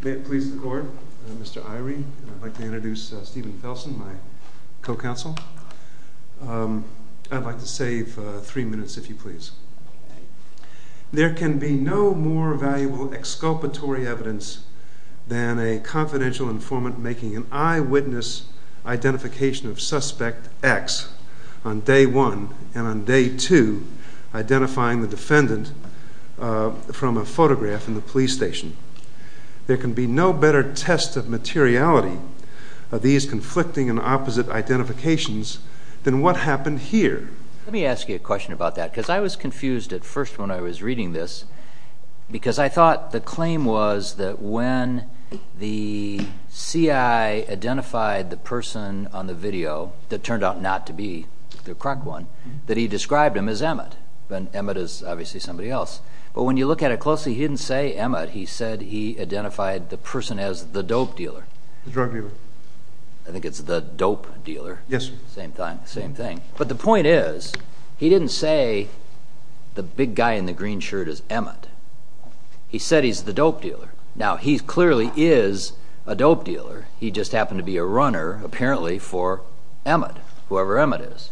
May it please the court, I'm Mr. Irie and I'd like to introduce Stephen Felsen, my co-counsel. I'd like to save three minutes if you please. There can be no more valuable exculpatory evidence than a confidential informant making an eyewitness identification of suspect X on day one and on day two identifying the defendant from a photograph in the police station. There can be no better test of materiality of these conflicting and opposite identifications than what happened here. Let me ask you a question about that because I was confused at first when I was reading this because I thought the claim was that when the CI identified the person on the video that turned out not to be the crock one that he described him as Emmett and Emmett is obviously somebody else but when you look at it closely he didn't say Emmett he said he identified the person as the dope dealer. The drug dealer. I think it's the dope dealer. Yes. Same thing. But the point is he didn't say the big guy in the green shirt is Emmett. He said he's the dope dealer. Now he clearly is a dope dealer he just happened to be a runner apparently for Emmett, whoever Emmett is.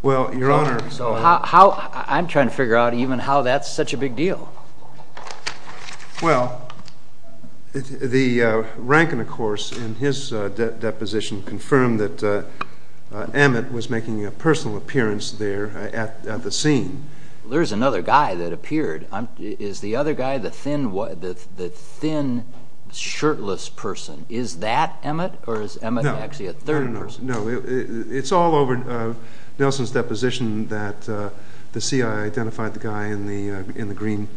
Well your honor. So how I'm trying to figure out even how that's such a big deal. Well the rank and the course in his deposition confirmed that Emmett was making a personal appearance there at the scene. There's another guy that appeared. Is the other guy the thin shirtless person? Is that Emmett or is Emmett actually a third person? No it's all over Nelson's deposition that the CI identified the guy in the in the green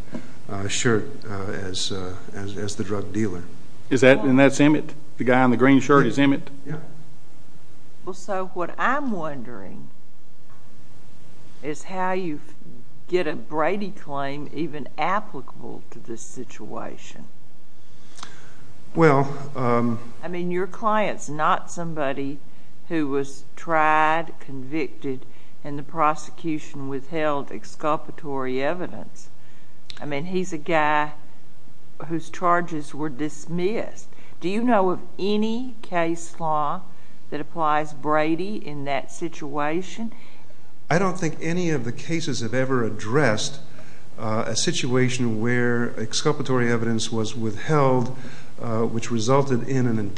shirt as the drug dealer. Is that and that's Emmett the guy on the green shirt is Emmett? Yeah. Well so what I'm wondering is how you get a Brady claim even applicable to this situation. Well. I mean your clients not somebody who was tried convicted and the prosecution withheld exculpatory evidence. I mean he's a guy whose charges were dismissed. Do you know of any case law that applies Brady in that situation? I don't think any of the cases have ever addressed a situation where exculpatory evidence was withheld which resulted in an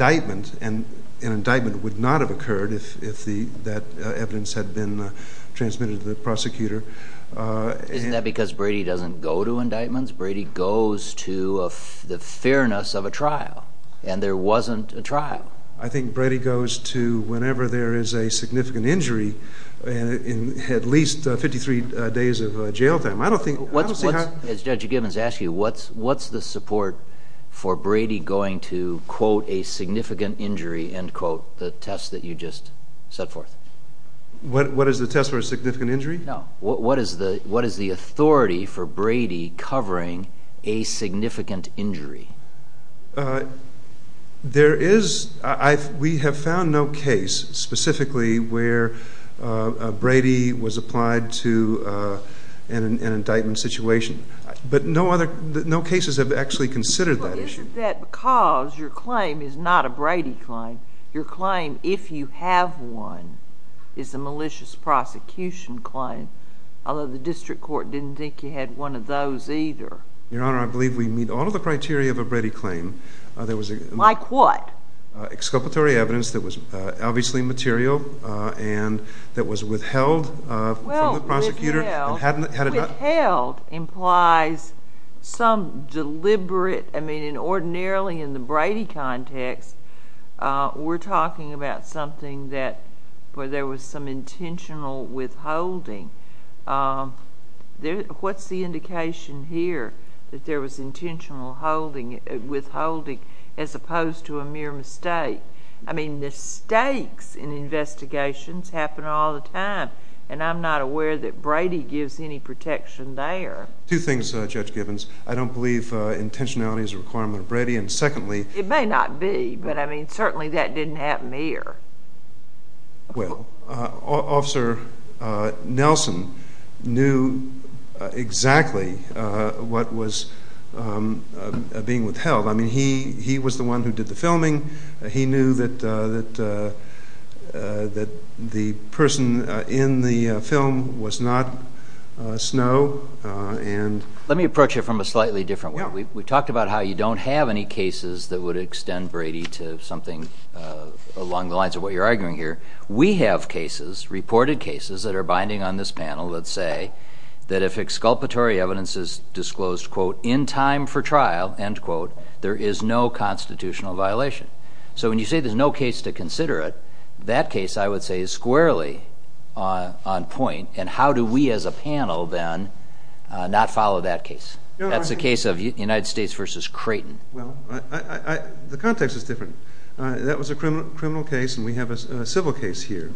transmitted to the prosecutor. Isn't that because Brady doesn't go to indictments? Brady goes to the fairness of a trial and there wasn't a trial. I think Brady goes to whenever there is a significant injury and in at least 53 days of jail time. I don't think. As Judge Gibbons asked you what's what's the support for Brady going to quote a significant injury and quote the test that you just set forth? What is the test for a significant injury? No what is the what is the authority for Brady covering a significant injury? There is I we have found no case specifically where Brady was applied to an indictment situation but no other no cases have actually considered that issue. Is that because your claim is not a Brady claim your claim if you have one is a malicious prosecution claim although the district court didn't think you had one of those either? Your honor I believe we meet all of the criteria of a Brady claim. Like what? Exculpatory evidence that was obviously material and that was withheld from the prosecutor. Withheld implies some deliberate I mean an ordinarily in the Brady context we're talking about something that where there was some intentional withholding. What's the indication here that there was intentional withholding as opposed to a mere mistake? I mean mistakes in investigations happen all the time and I'm not aware that Brady gives any protection there. Two things Judge Gibbons I don't believe intentionality is a requirement of Brady and secondly. It may not be but I mean certainly that didn't happen here. Well officer Nelson knew exactly what was being withheld I mean he he was the one who did the filming he knew that that that the person in the film was not Snow and. Let me approach it from a you don't have any cases that would extend Brady to something along the lines of what you're arguing here. We have cases reported cases that are binding on this panel that say that if exculpatory evidence is disclosed quote in time for trial end quote there is no constitutional violation. So when you say there's no case to consider it that case I would say is squarely on point and how do we as a panel then not follow that case? That's the case of United States versus Creighton. Well I the context is different that was a criminal criminal case and we have a civil case here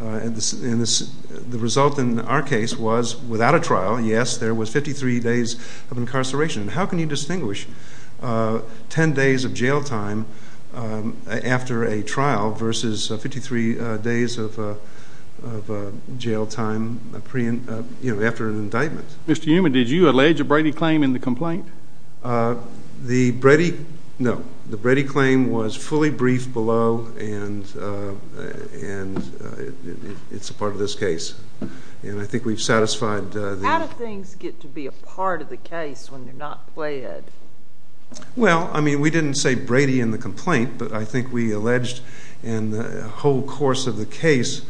and this in this the result in our case was without a trial yes there was 53 days of incarceration. How can you distinguish 10 days of jail time after a trial versus 53 days of jail time you know after an indictment. Mr. Newman did you allege a Brady claim in the complaint? The Brady no the Brady claim was fully briefed below and and it's a part of this case and I think we've satisfied. How do things get to be a part of the case when they're not pled? Well I mean we didn't say Brady in the complaint but I think we alleged in the whole course of the case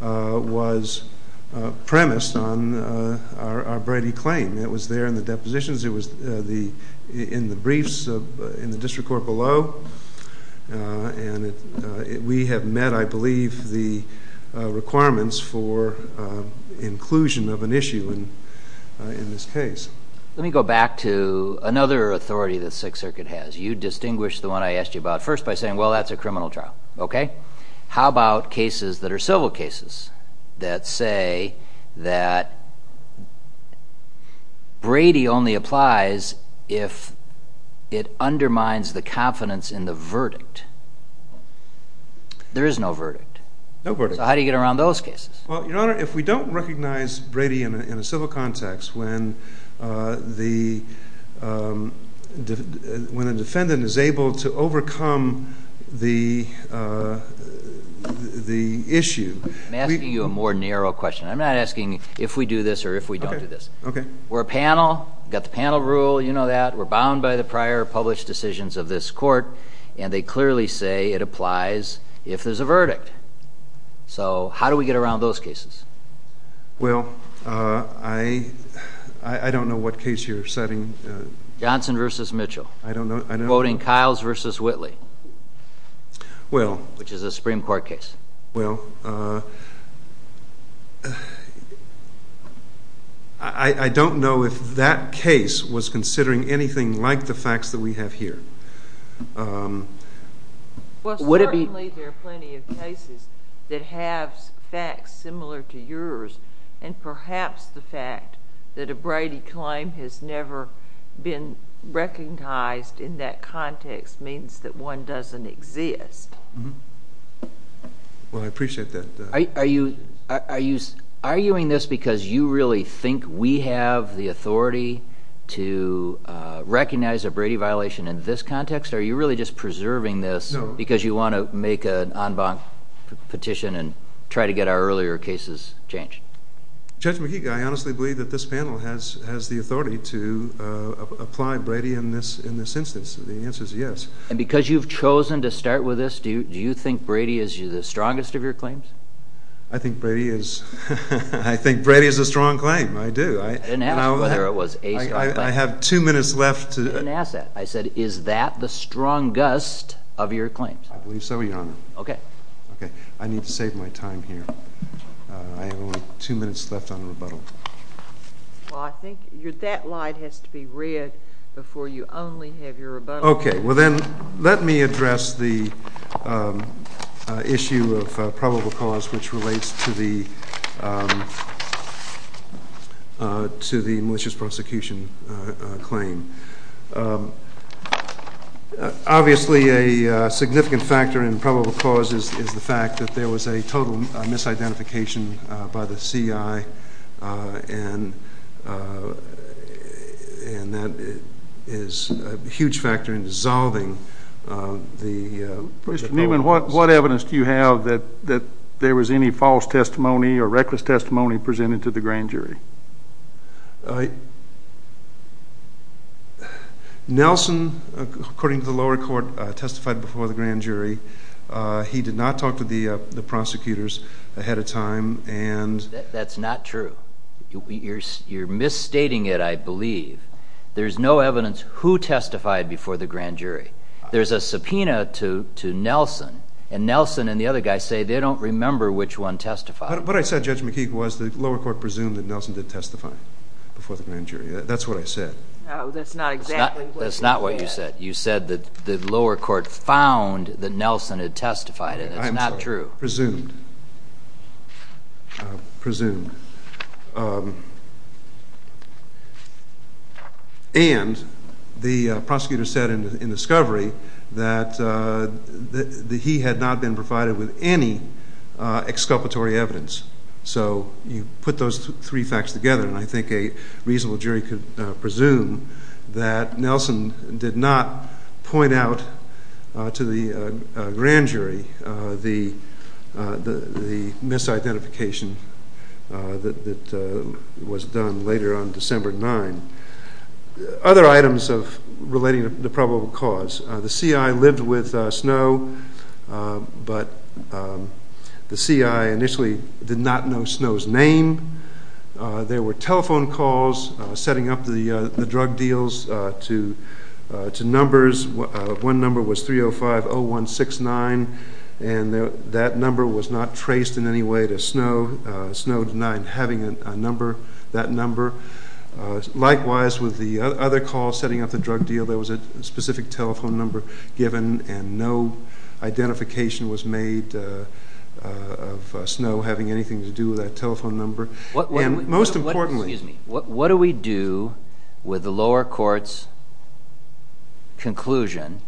was premised on our Brady claim. It was there in the depositions it was the in the briefs in the district court below and we have met I believe the requirements for inclusion of an issue and in this case. Let me go back to another authority that Sixth Circuit has you distinguish the one I asked you about first by saying well that's a criminal trial okay. How about cases that are civil cases that say that Brady only applies if it undermines the confidence in the verdict. There is no verdict. No verdict. So how do you get around those cases? Well your honor if we don't recognize Brady in a civil context when the when a defendant is able to overcome the the issue. I'm asking you a more narrow question. I'm not asking if we do this or if we don't do this. Okay. We're a panel got the panel rule you know that we're bound by the prior published decisions of this court and they clearly say it applies if there's a verdict. So how do we get around those cases? Well I I don't know what case you're setting. Johnson versus Mitchell. I don't know. Quoting Kyles versus Whitley. Well. Which is a Supreme Court case. Well I I don't know if that case was considering anything like the facts that we have here. Well certainly there are plenty of cases that have facts similar to yours and perhaps the fact that a Brady claim has never been recognized in that context means that one doesn't exist. Well I appreciate that. Are you are you arguing this because you really think we have the authority to recognize a Brady violation in this context? Are you really just preserving this because you want to make an en banc petition and try to get our earlier cases changed? Judge McGeek, I honestly believe that this panel has has the authority to apply Brady in this in this instance. The answer is yes. And because you've chosen to start with this do you think Brady is you the I have two minutes left. You didn't ask that. I said is that the strongest of your claims? I believe so your honor. Okay. Okay I need to save my time here. I have only two minutes left on the rebuttal. Well I think your that light has to be red before you only have your rebuttal. Okay well then let me claim. Obviously a significant factor in probable cause is the fact that there was a total misidentification by the CI and and that is a huge factor in dissolving the... Mr. Newman what what evidence do you have that that there was any false testimony or reckless testimony presented to the Nelson according to the lower court testified before the grand jury. He did not talk to the the prosecutors ahead of time and... That's not true. You're misstating it I believe. There's no evidence who testified before the grand jury. There's a subpoena to to Nelson and Nelson and the other guys say they don't remember which one testified. What I said Judge McGeek was the lower court presumed that Nelson did testify before the grand jury. That's what I said. No that's not exactly what you said. That's not what you said. You said that the lower court found that Nelson had testified and it's not true. Presumed. Presumed. And the prosecutor said in discovery that that he had not been provided with any exculpatory evidence. So you put those three facts together and I think a reasonable jury could presume that Nelson did not point out to the grand jury the the misidentification that was done later on December 9. Other items of relating to the probable cause. The CI lived with Snow but the CI initially did not know Snow's name. There were telephone calls setting up the drug deals to numbers. One number was 3050169 and that number was not traced in any way to Snow. Snow denied having a number that number. Likewise with the other call setting up the drug deal there was a specific telephone number given and no identification was made of Snow having anything to do with that telephone number. And most importantly. What do we do with the lower courts conclusion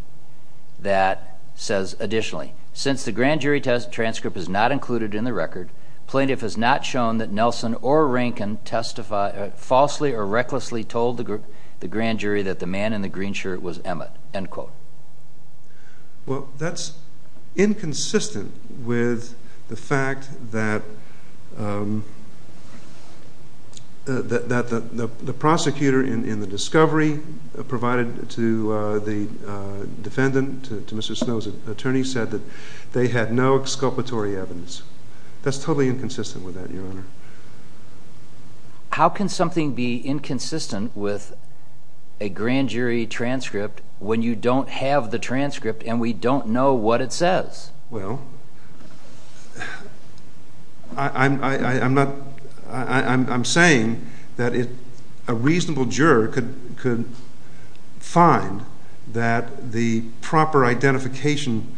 that says additionally since the grand jury test transcript is not included in the record plaintiff has not shown that Nelson or Rankin falsely or recklessly told the grand jury that the man in the green shirt was Emmett. End quote. Well that's inconsistent with the fact that the prosecutor in the discovery provided to the defendant to Mr. Snow's attorney said that they had no exculpatory evidence. That's totally inconsistent with that your honor. How can something be inconsistent with a grand jury transcript when you don't have the transcript and we don't know what it says? Well I'm not I'm saying that if a reasonable juror could could find that the proper identification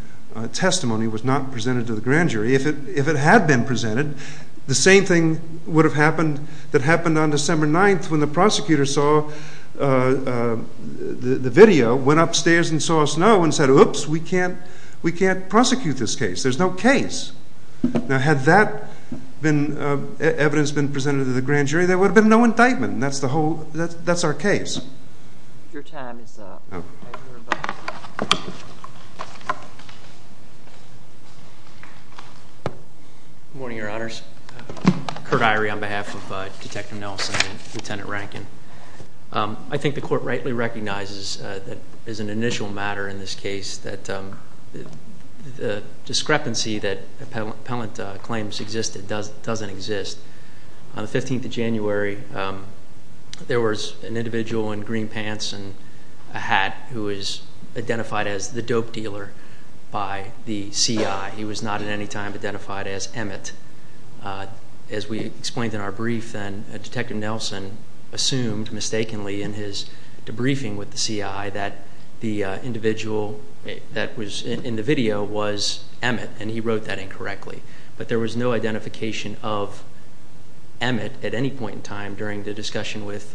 testimony was not been presented the same thing would have happened that happened on December 9th when the prosecutor saw the video went upstairs and saw Snow and said oops we can't we can't prosecute this case. There's no case. Now had that been evidence been presented to the grand jury there would have been no indictment and that's the whole that's our case. Your time is up. Good morning your honors. Kurt Eyrie on behalf of Detective Nelson and Lieutenant Rankin. I think the court rightly recognizes that is an initial matter in this case that the discrepancy that appellant claims existed doesn't exist. On the 15th of January there was an individual in green pants and a hat who was identified as the dope dealer by the CI. He was not at any time identified as Emmett. As we explained in our brief then Detective Nelson assumed mistakenly in his debriefing with the CI that the individual that was in the video was Emmett and he wrote that incorrectly. But there was no identification of Emmett at any point in time during the discussion with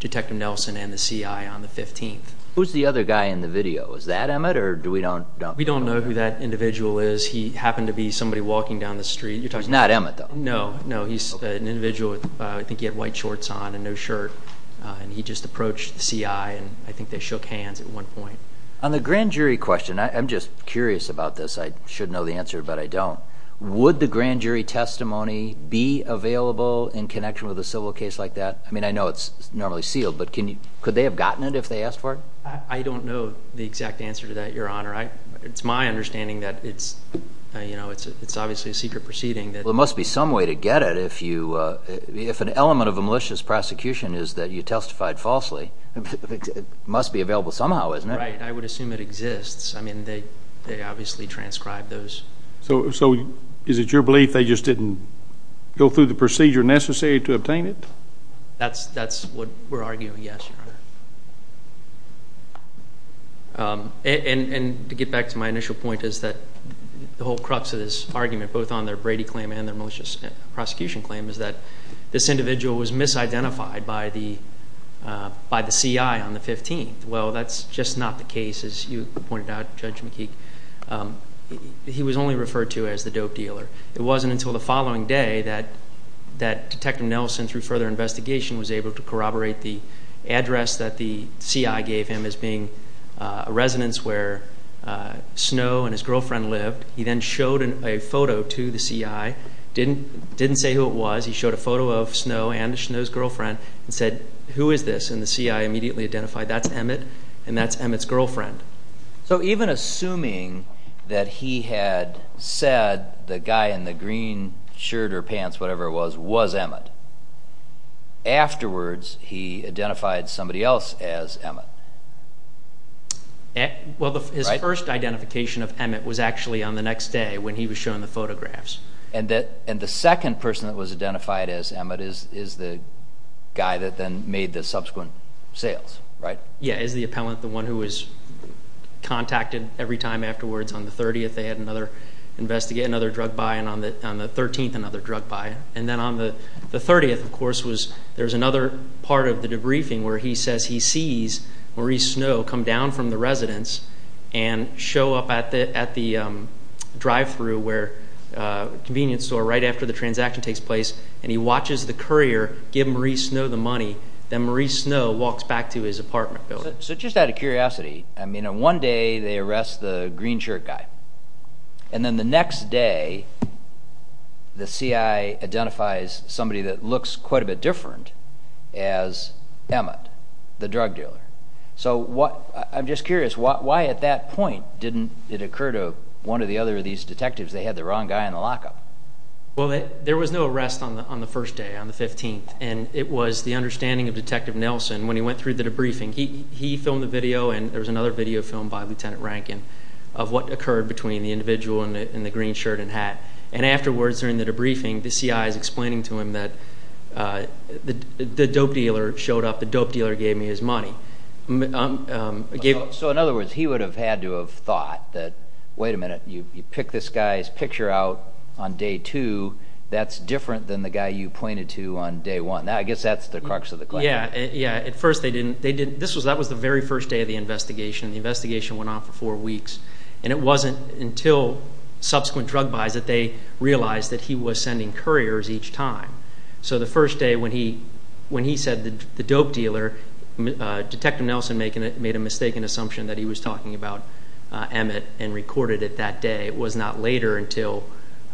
Detective Nelson and the CI on the 15th. Who's the other guy in the video is that Emmett or do we don't know? We don't know who that individual is he happened to be somebody walking down the street. He's not Emmett though. No no he's an individual I think he had white shorts on and no shirt and he just approached the CI and I think they shook hands at one point. On the grand jury question I'm just curious about this I should know the answer but I don't. Would the grand jury testimony be available in connection with a civil case like that? I mean I know it's normally sealed but can you could they have gotten it if they asked for it? I don't know the exact answer to that your honor. It's my understanding that it's you know it's it's obviously a secret proceeding. There must be some way to get it if you if an element of a malicious prosecution is that you testified falsely. It must be available somehow isn't it? Right I would assume it exists I mean they they obviously transcribed those. So so is it your belief they just didn't go through the procedure necessary to obtain it? That's that's what we're arguing yes your honor. And to get back to my initial point is that the whole crux of this argument both on their Brady claim and their malicious prosecution claim is that this individual was misidentified by the by the CI on the 15th. Well that's just not the case as you pointed out Judge McKeek. He was only referred to as the dope dealer. It wasn't until the following day that that Detective Nelson through further investigation was able to corroborate the address that the CI gave him as being a residence where Snow and his girlfriend lived. He then showed a photo to the CI didn't didn't say who it was he showed a photo of Snow and Snow's girlfriend and said who is this and the CI immediately identified that's Emmett and that's Emmett's girlfriend. So even assuming that he had said the guy in the green shirt or pants whatever it was was Emmett. Afterwards he identified somebody else as Emmett. Well his first identification of Emmett was actually on the next day when he was shown the photographs. And that and the second person that was identified as Emmett is is the guy that then made the subsequent sales right? Yeah is the appellant the one who was contacted every time afterwards on the 30th they had another investigate another drug buy and on the on the 13th another drug buy and then on the the 30th of course was there's another part of the debriefing where he says he sees Maurice Snow come down from the residence and show up at the at the drive-thru where convenience store right after the transaction takes place and he watches the courier give Maurice Snow the money then Maurice Snow walks back to his apartment building. So just out of curiosity I mean on one day they arrest the green shirt guy and then the next day the CI identifies somebody that looks quite a bit different as Emmett the drug dealer. So what I'm just curious why at that point didn't it occur to one of the other of these detectives they had the wrong guy in the lockup? Well there was no arrest on the on the first day on the 15th and it was the understanding of Detective Nelson when he went through the debriefing he he filmed the video and there was another video filmed by Lieutenant Rankin of what occurred between the individual and the green shirt and hat and afterwards during the debriefing the CI is So in other words he would have had to have thought that wait a minute you pick this guy's picture out on day two that's different than the guy you pointed to on day one now I guess that's the crux of the question. Yeah yeah at first they didn't they didn't this was that was the very first day of the investigation the investigation went on for four weeks and it wasn't until subsequent drug buys that they realized that he was sending couriers each time. So the first day when he when he said the dope dealer Detective Nelson making it made a mistaken assumption that he was talking about Emmett and recorded it that day it was not later until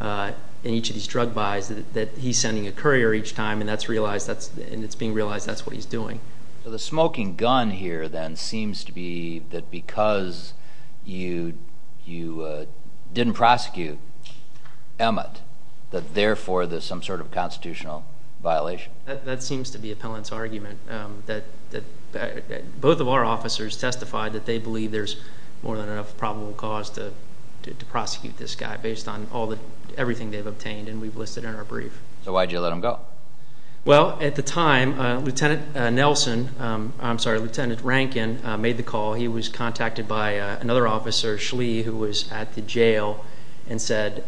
in each of these drug buys that he's sending a courier each time and that's realized that's and it's being realized that's what he's doing. So the smoking gun here then seems to be that because you you didn't prosecute Emmett that therefore there's some sort of constitutional violation. That seems to be appellant's argument that that both of our officers testified that they believe there's more than enough probable cause to prosecute this guy based on all the everything they've obtained and we've listed in our brief. So why'd you let him go? Well at the time Lieutenant Nelson I'm sorry Lieutenant Rankin made the call he was contacted by another officer Schley who was at the jail and said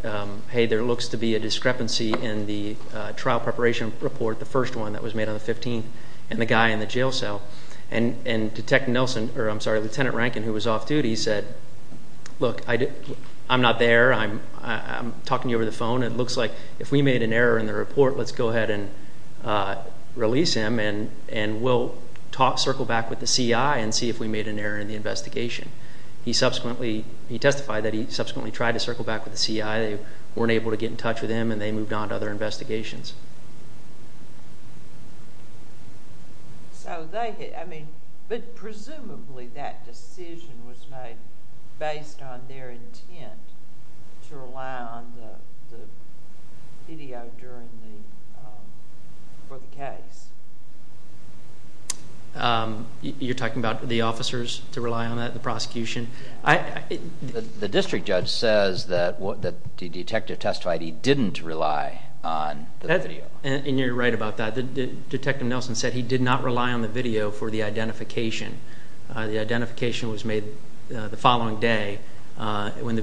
hey there looks to be a discrepancy in the trial preparation report the first one that was made on the 15th and the guy in the jail cell and and Detective Nelson or I'm sorry Lieutenant Rankin who was off duty said look I did I'm not there I'm talking you over the phone it looks like if we made an error in the report let's go ahead and release him and and we'll talk circle back with the CI and see if we made an error in the investigation. He subsequently he testified that he subsequently tried to circle back with the CI they weren't able to get in touch with him and they moved on to other investigations. So they I mean but presumably that decision was made based on their intent to rely on the video for the case. You're talking about the officers to rely on that the prosecution? The district judge says that what the detective testified he didn't rely on the video. And you're right about that the Detective Nelson said he did not rely on the video for the identification. The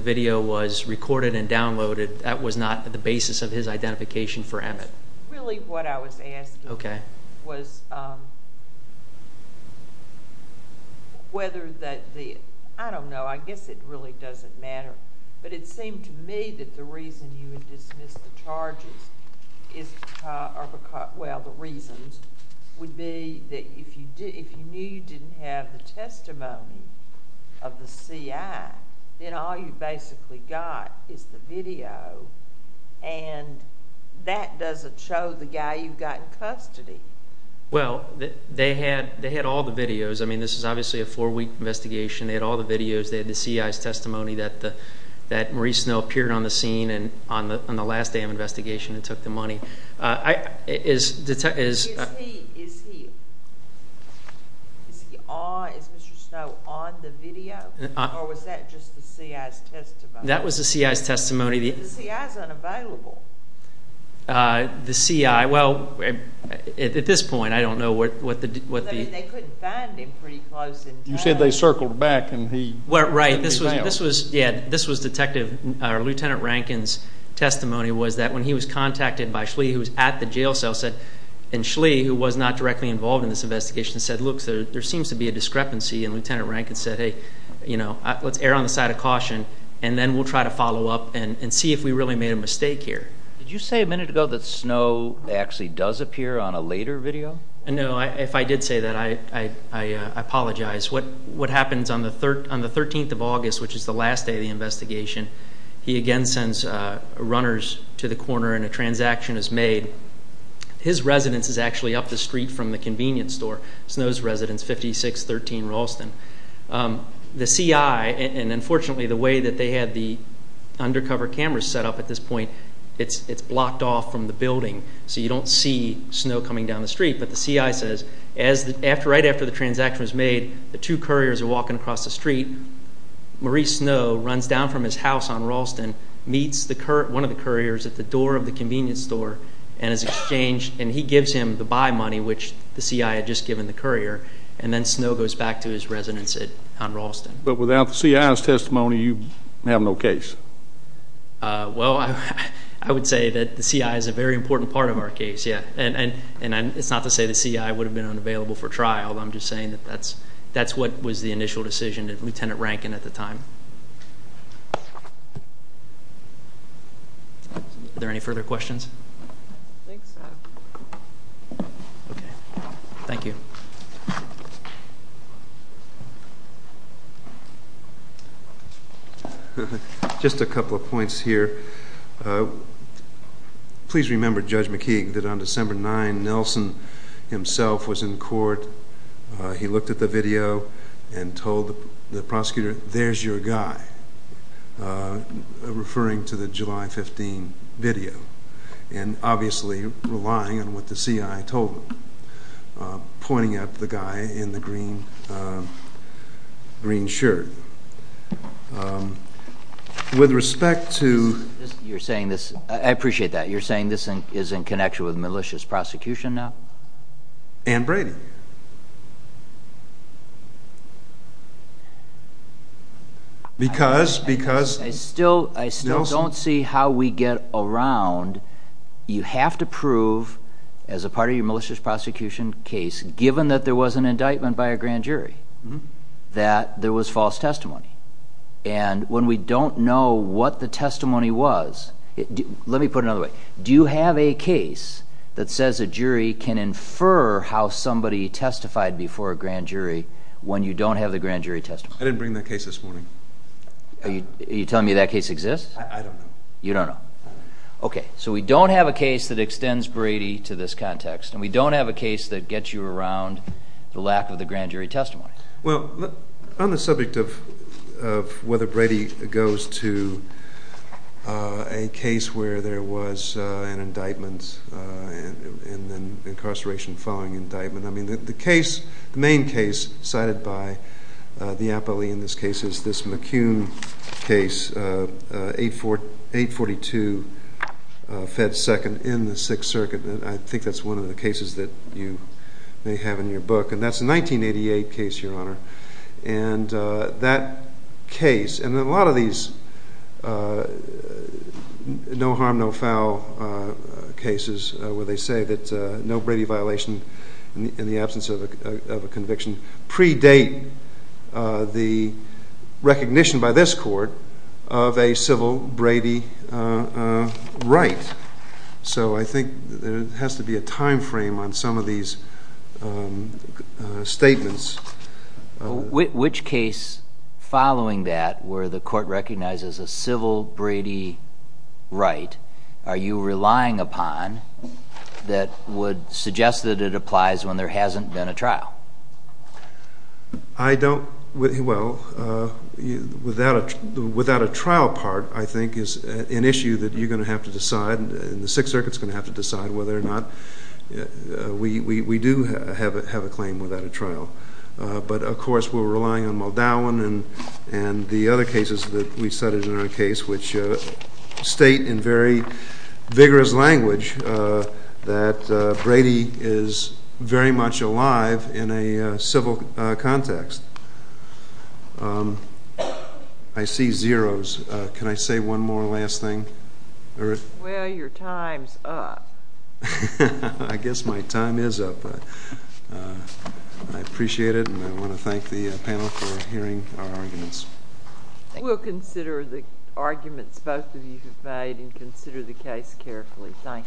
video was recorded and downloaded that was not the basis of his identification for Emmett. Really what I was asking was whether that the I don't know I guess it really doesn't matter but it seemed to me that the reason you would dismiss the charges is because well the reasons would be if you knew you didn't have the testimony of the CI then all you basically got is the video and that doesn't show the guy you've got in custody. Well they had they had all the videos I mean this is obviously a four-week investigation they had all the videos they had the CI's testimony that the that Maurice Snow appeared on the scene and on the on the last day of investigation and took the money. Is Mr. Snow on the video? Or was that just the CI's testimony? That was the CI's testimony. The CI is unavailable. The CI well at this point I don't know what what the what the. You said they circled back and he. Well right this was this was yeah this was Detective or Lieutenant Rankin's testimony was that when he was contacted by Schley who was at the jail cell said and Schley who was not directly involved in this investigation said look there seems to be a discrepancy and Lieutenant Rankin said hey you know let's err on the side of caution and then we'll try to follow up and and see if we really made a mistake here. Did you say a minute ago that Snow actually does appear on a later video? No if I did say that I I apologize what what happens on the third on the 13th of August which is the last day of the investigation he again sends runners to the corner and a transaction is made. His residence is actually up the street from the convenience store. Snow's residence 5613 Ralston. The CI and unfortunately the way that they had the undercover cameras set up at this point it's it's blocked off from the building so you don't see Snow coming down the street but the CI says as the after right after the transaction was made the two couriers are walking across the street. Maurice Snow runs down from his house on Ralston meets the current one of the couriers at the door of the convenience store and has exchanged and he gives him the buy money which the CI had just given the courier and then Snow goes back to his residence at on Ralston. But without the CI's testimony you have no case. Well I I would say that the CI is a very important part of our case yeah and and and it's not to say the CI would have been unavailable for trial I'm just saying that that's that's what was the initial decision that Lieutenant Rankin at the time. Are there any further questions? Thank you. Just a couple of points here. Please remember Judge McKeague that on December 9 Nelson himself was in court he looked at the video and told the prosecutor there's your guy referring to the July 15 video and obviously relying on what the CI told him pointing at the guy in the green green shirt. With respect to. You're saying this I appreciate that you're saying this thing is in connection with malicious prosecution now? And Brady. Because because. I still I still don't see how we get around you have to prove as a part of your malicious prosecution case given that there was an indictment by a grand jury that there was false testimony and when we don't know what the that says a jury can infer how somebody testified before a grand jury when you don't have the grand jury testimony. I didn't bring that case this morning. Are you telling me that case exists? I don't know. You don't know. Okay so we don't have a case that extends Brady to this context and we don't have a case that gets you around the lack of the grand jury testimony. Well on the incarceration following indictment I mean that the case the main case cited by the appellee in this case is this McCune case 842 Fed Second in the Sixth Circuit and I think that's one of the cases that you may have in your book and that's a 1988 case your honor and that case and a lot of these no harm no foul cases where they say that no Brady violation in the absence of a conviction predate the recognition by this court of a civil Brady right. So I think there the court recognizes a civil Brady right are you relying upon that would suggest that it applies when there hasn't been a trial? I don't well without a trial part I think is an issue that you're going to have to decide and the Sixth Circuit's going to have to decide whether or not we do have a claim without a trial but of course we're relying on Muldown and the other cases that we studied in our case which state in very vigorous language that Brady is very much alive in a civil context. I see zeros can I say one more last thing? Well your time's up. I guess we'll consider the arguments both of you have made and consider the case carefully. Thank you.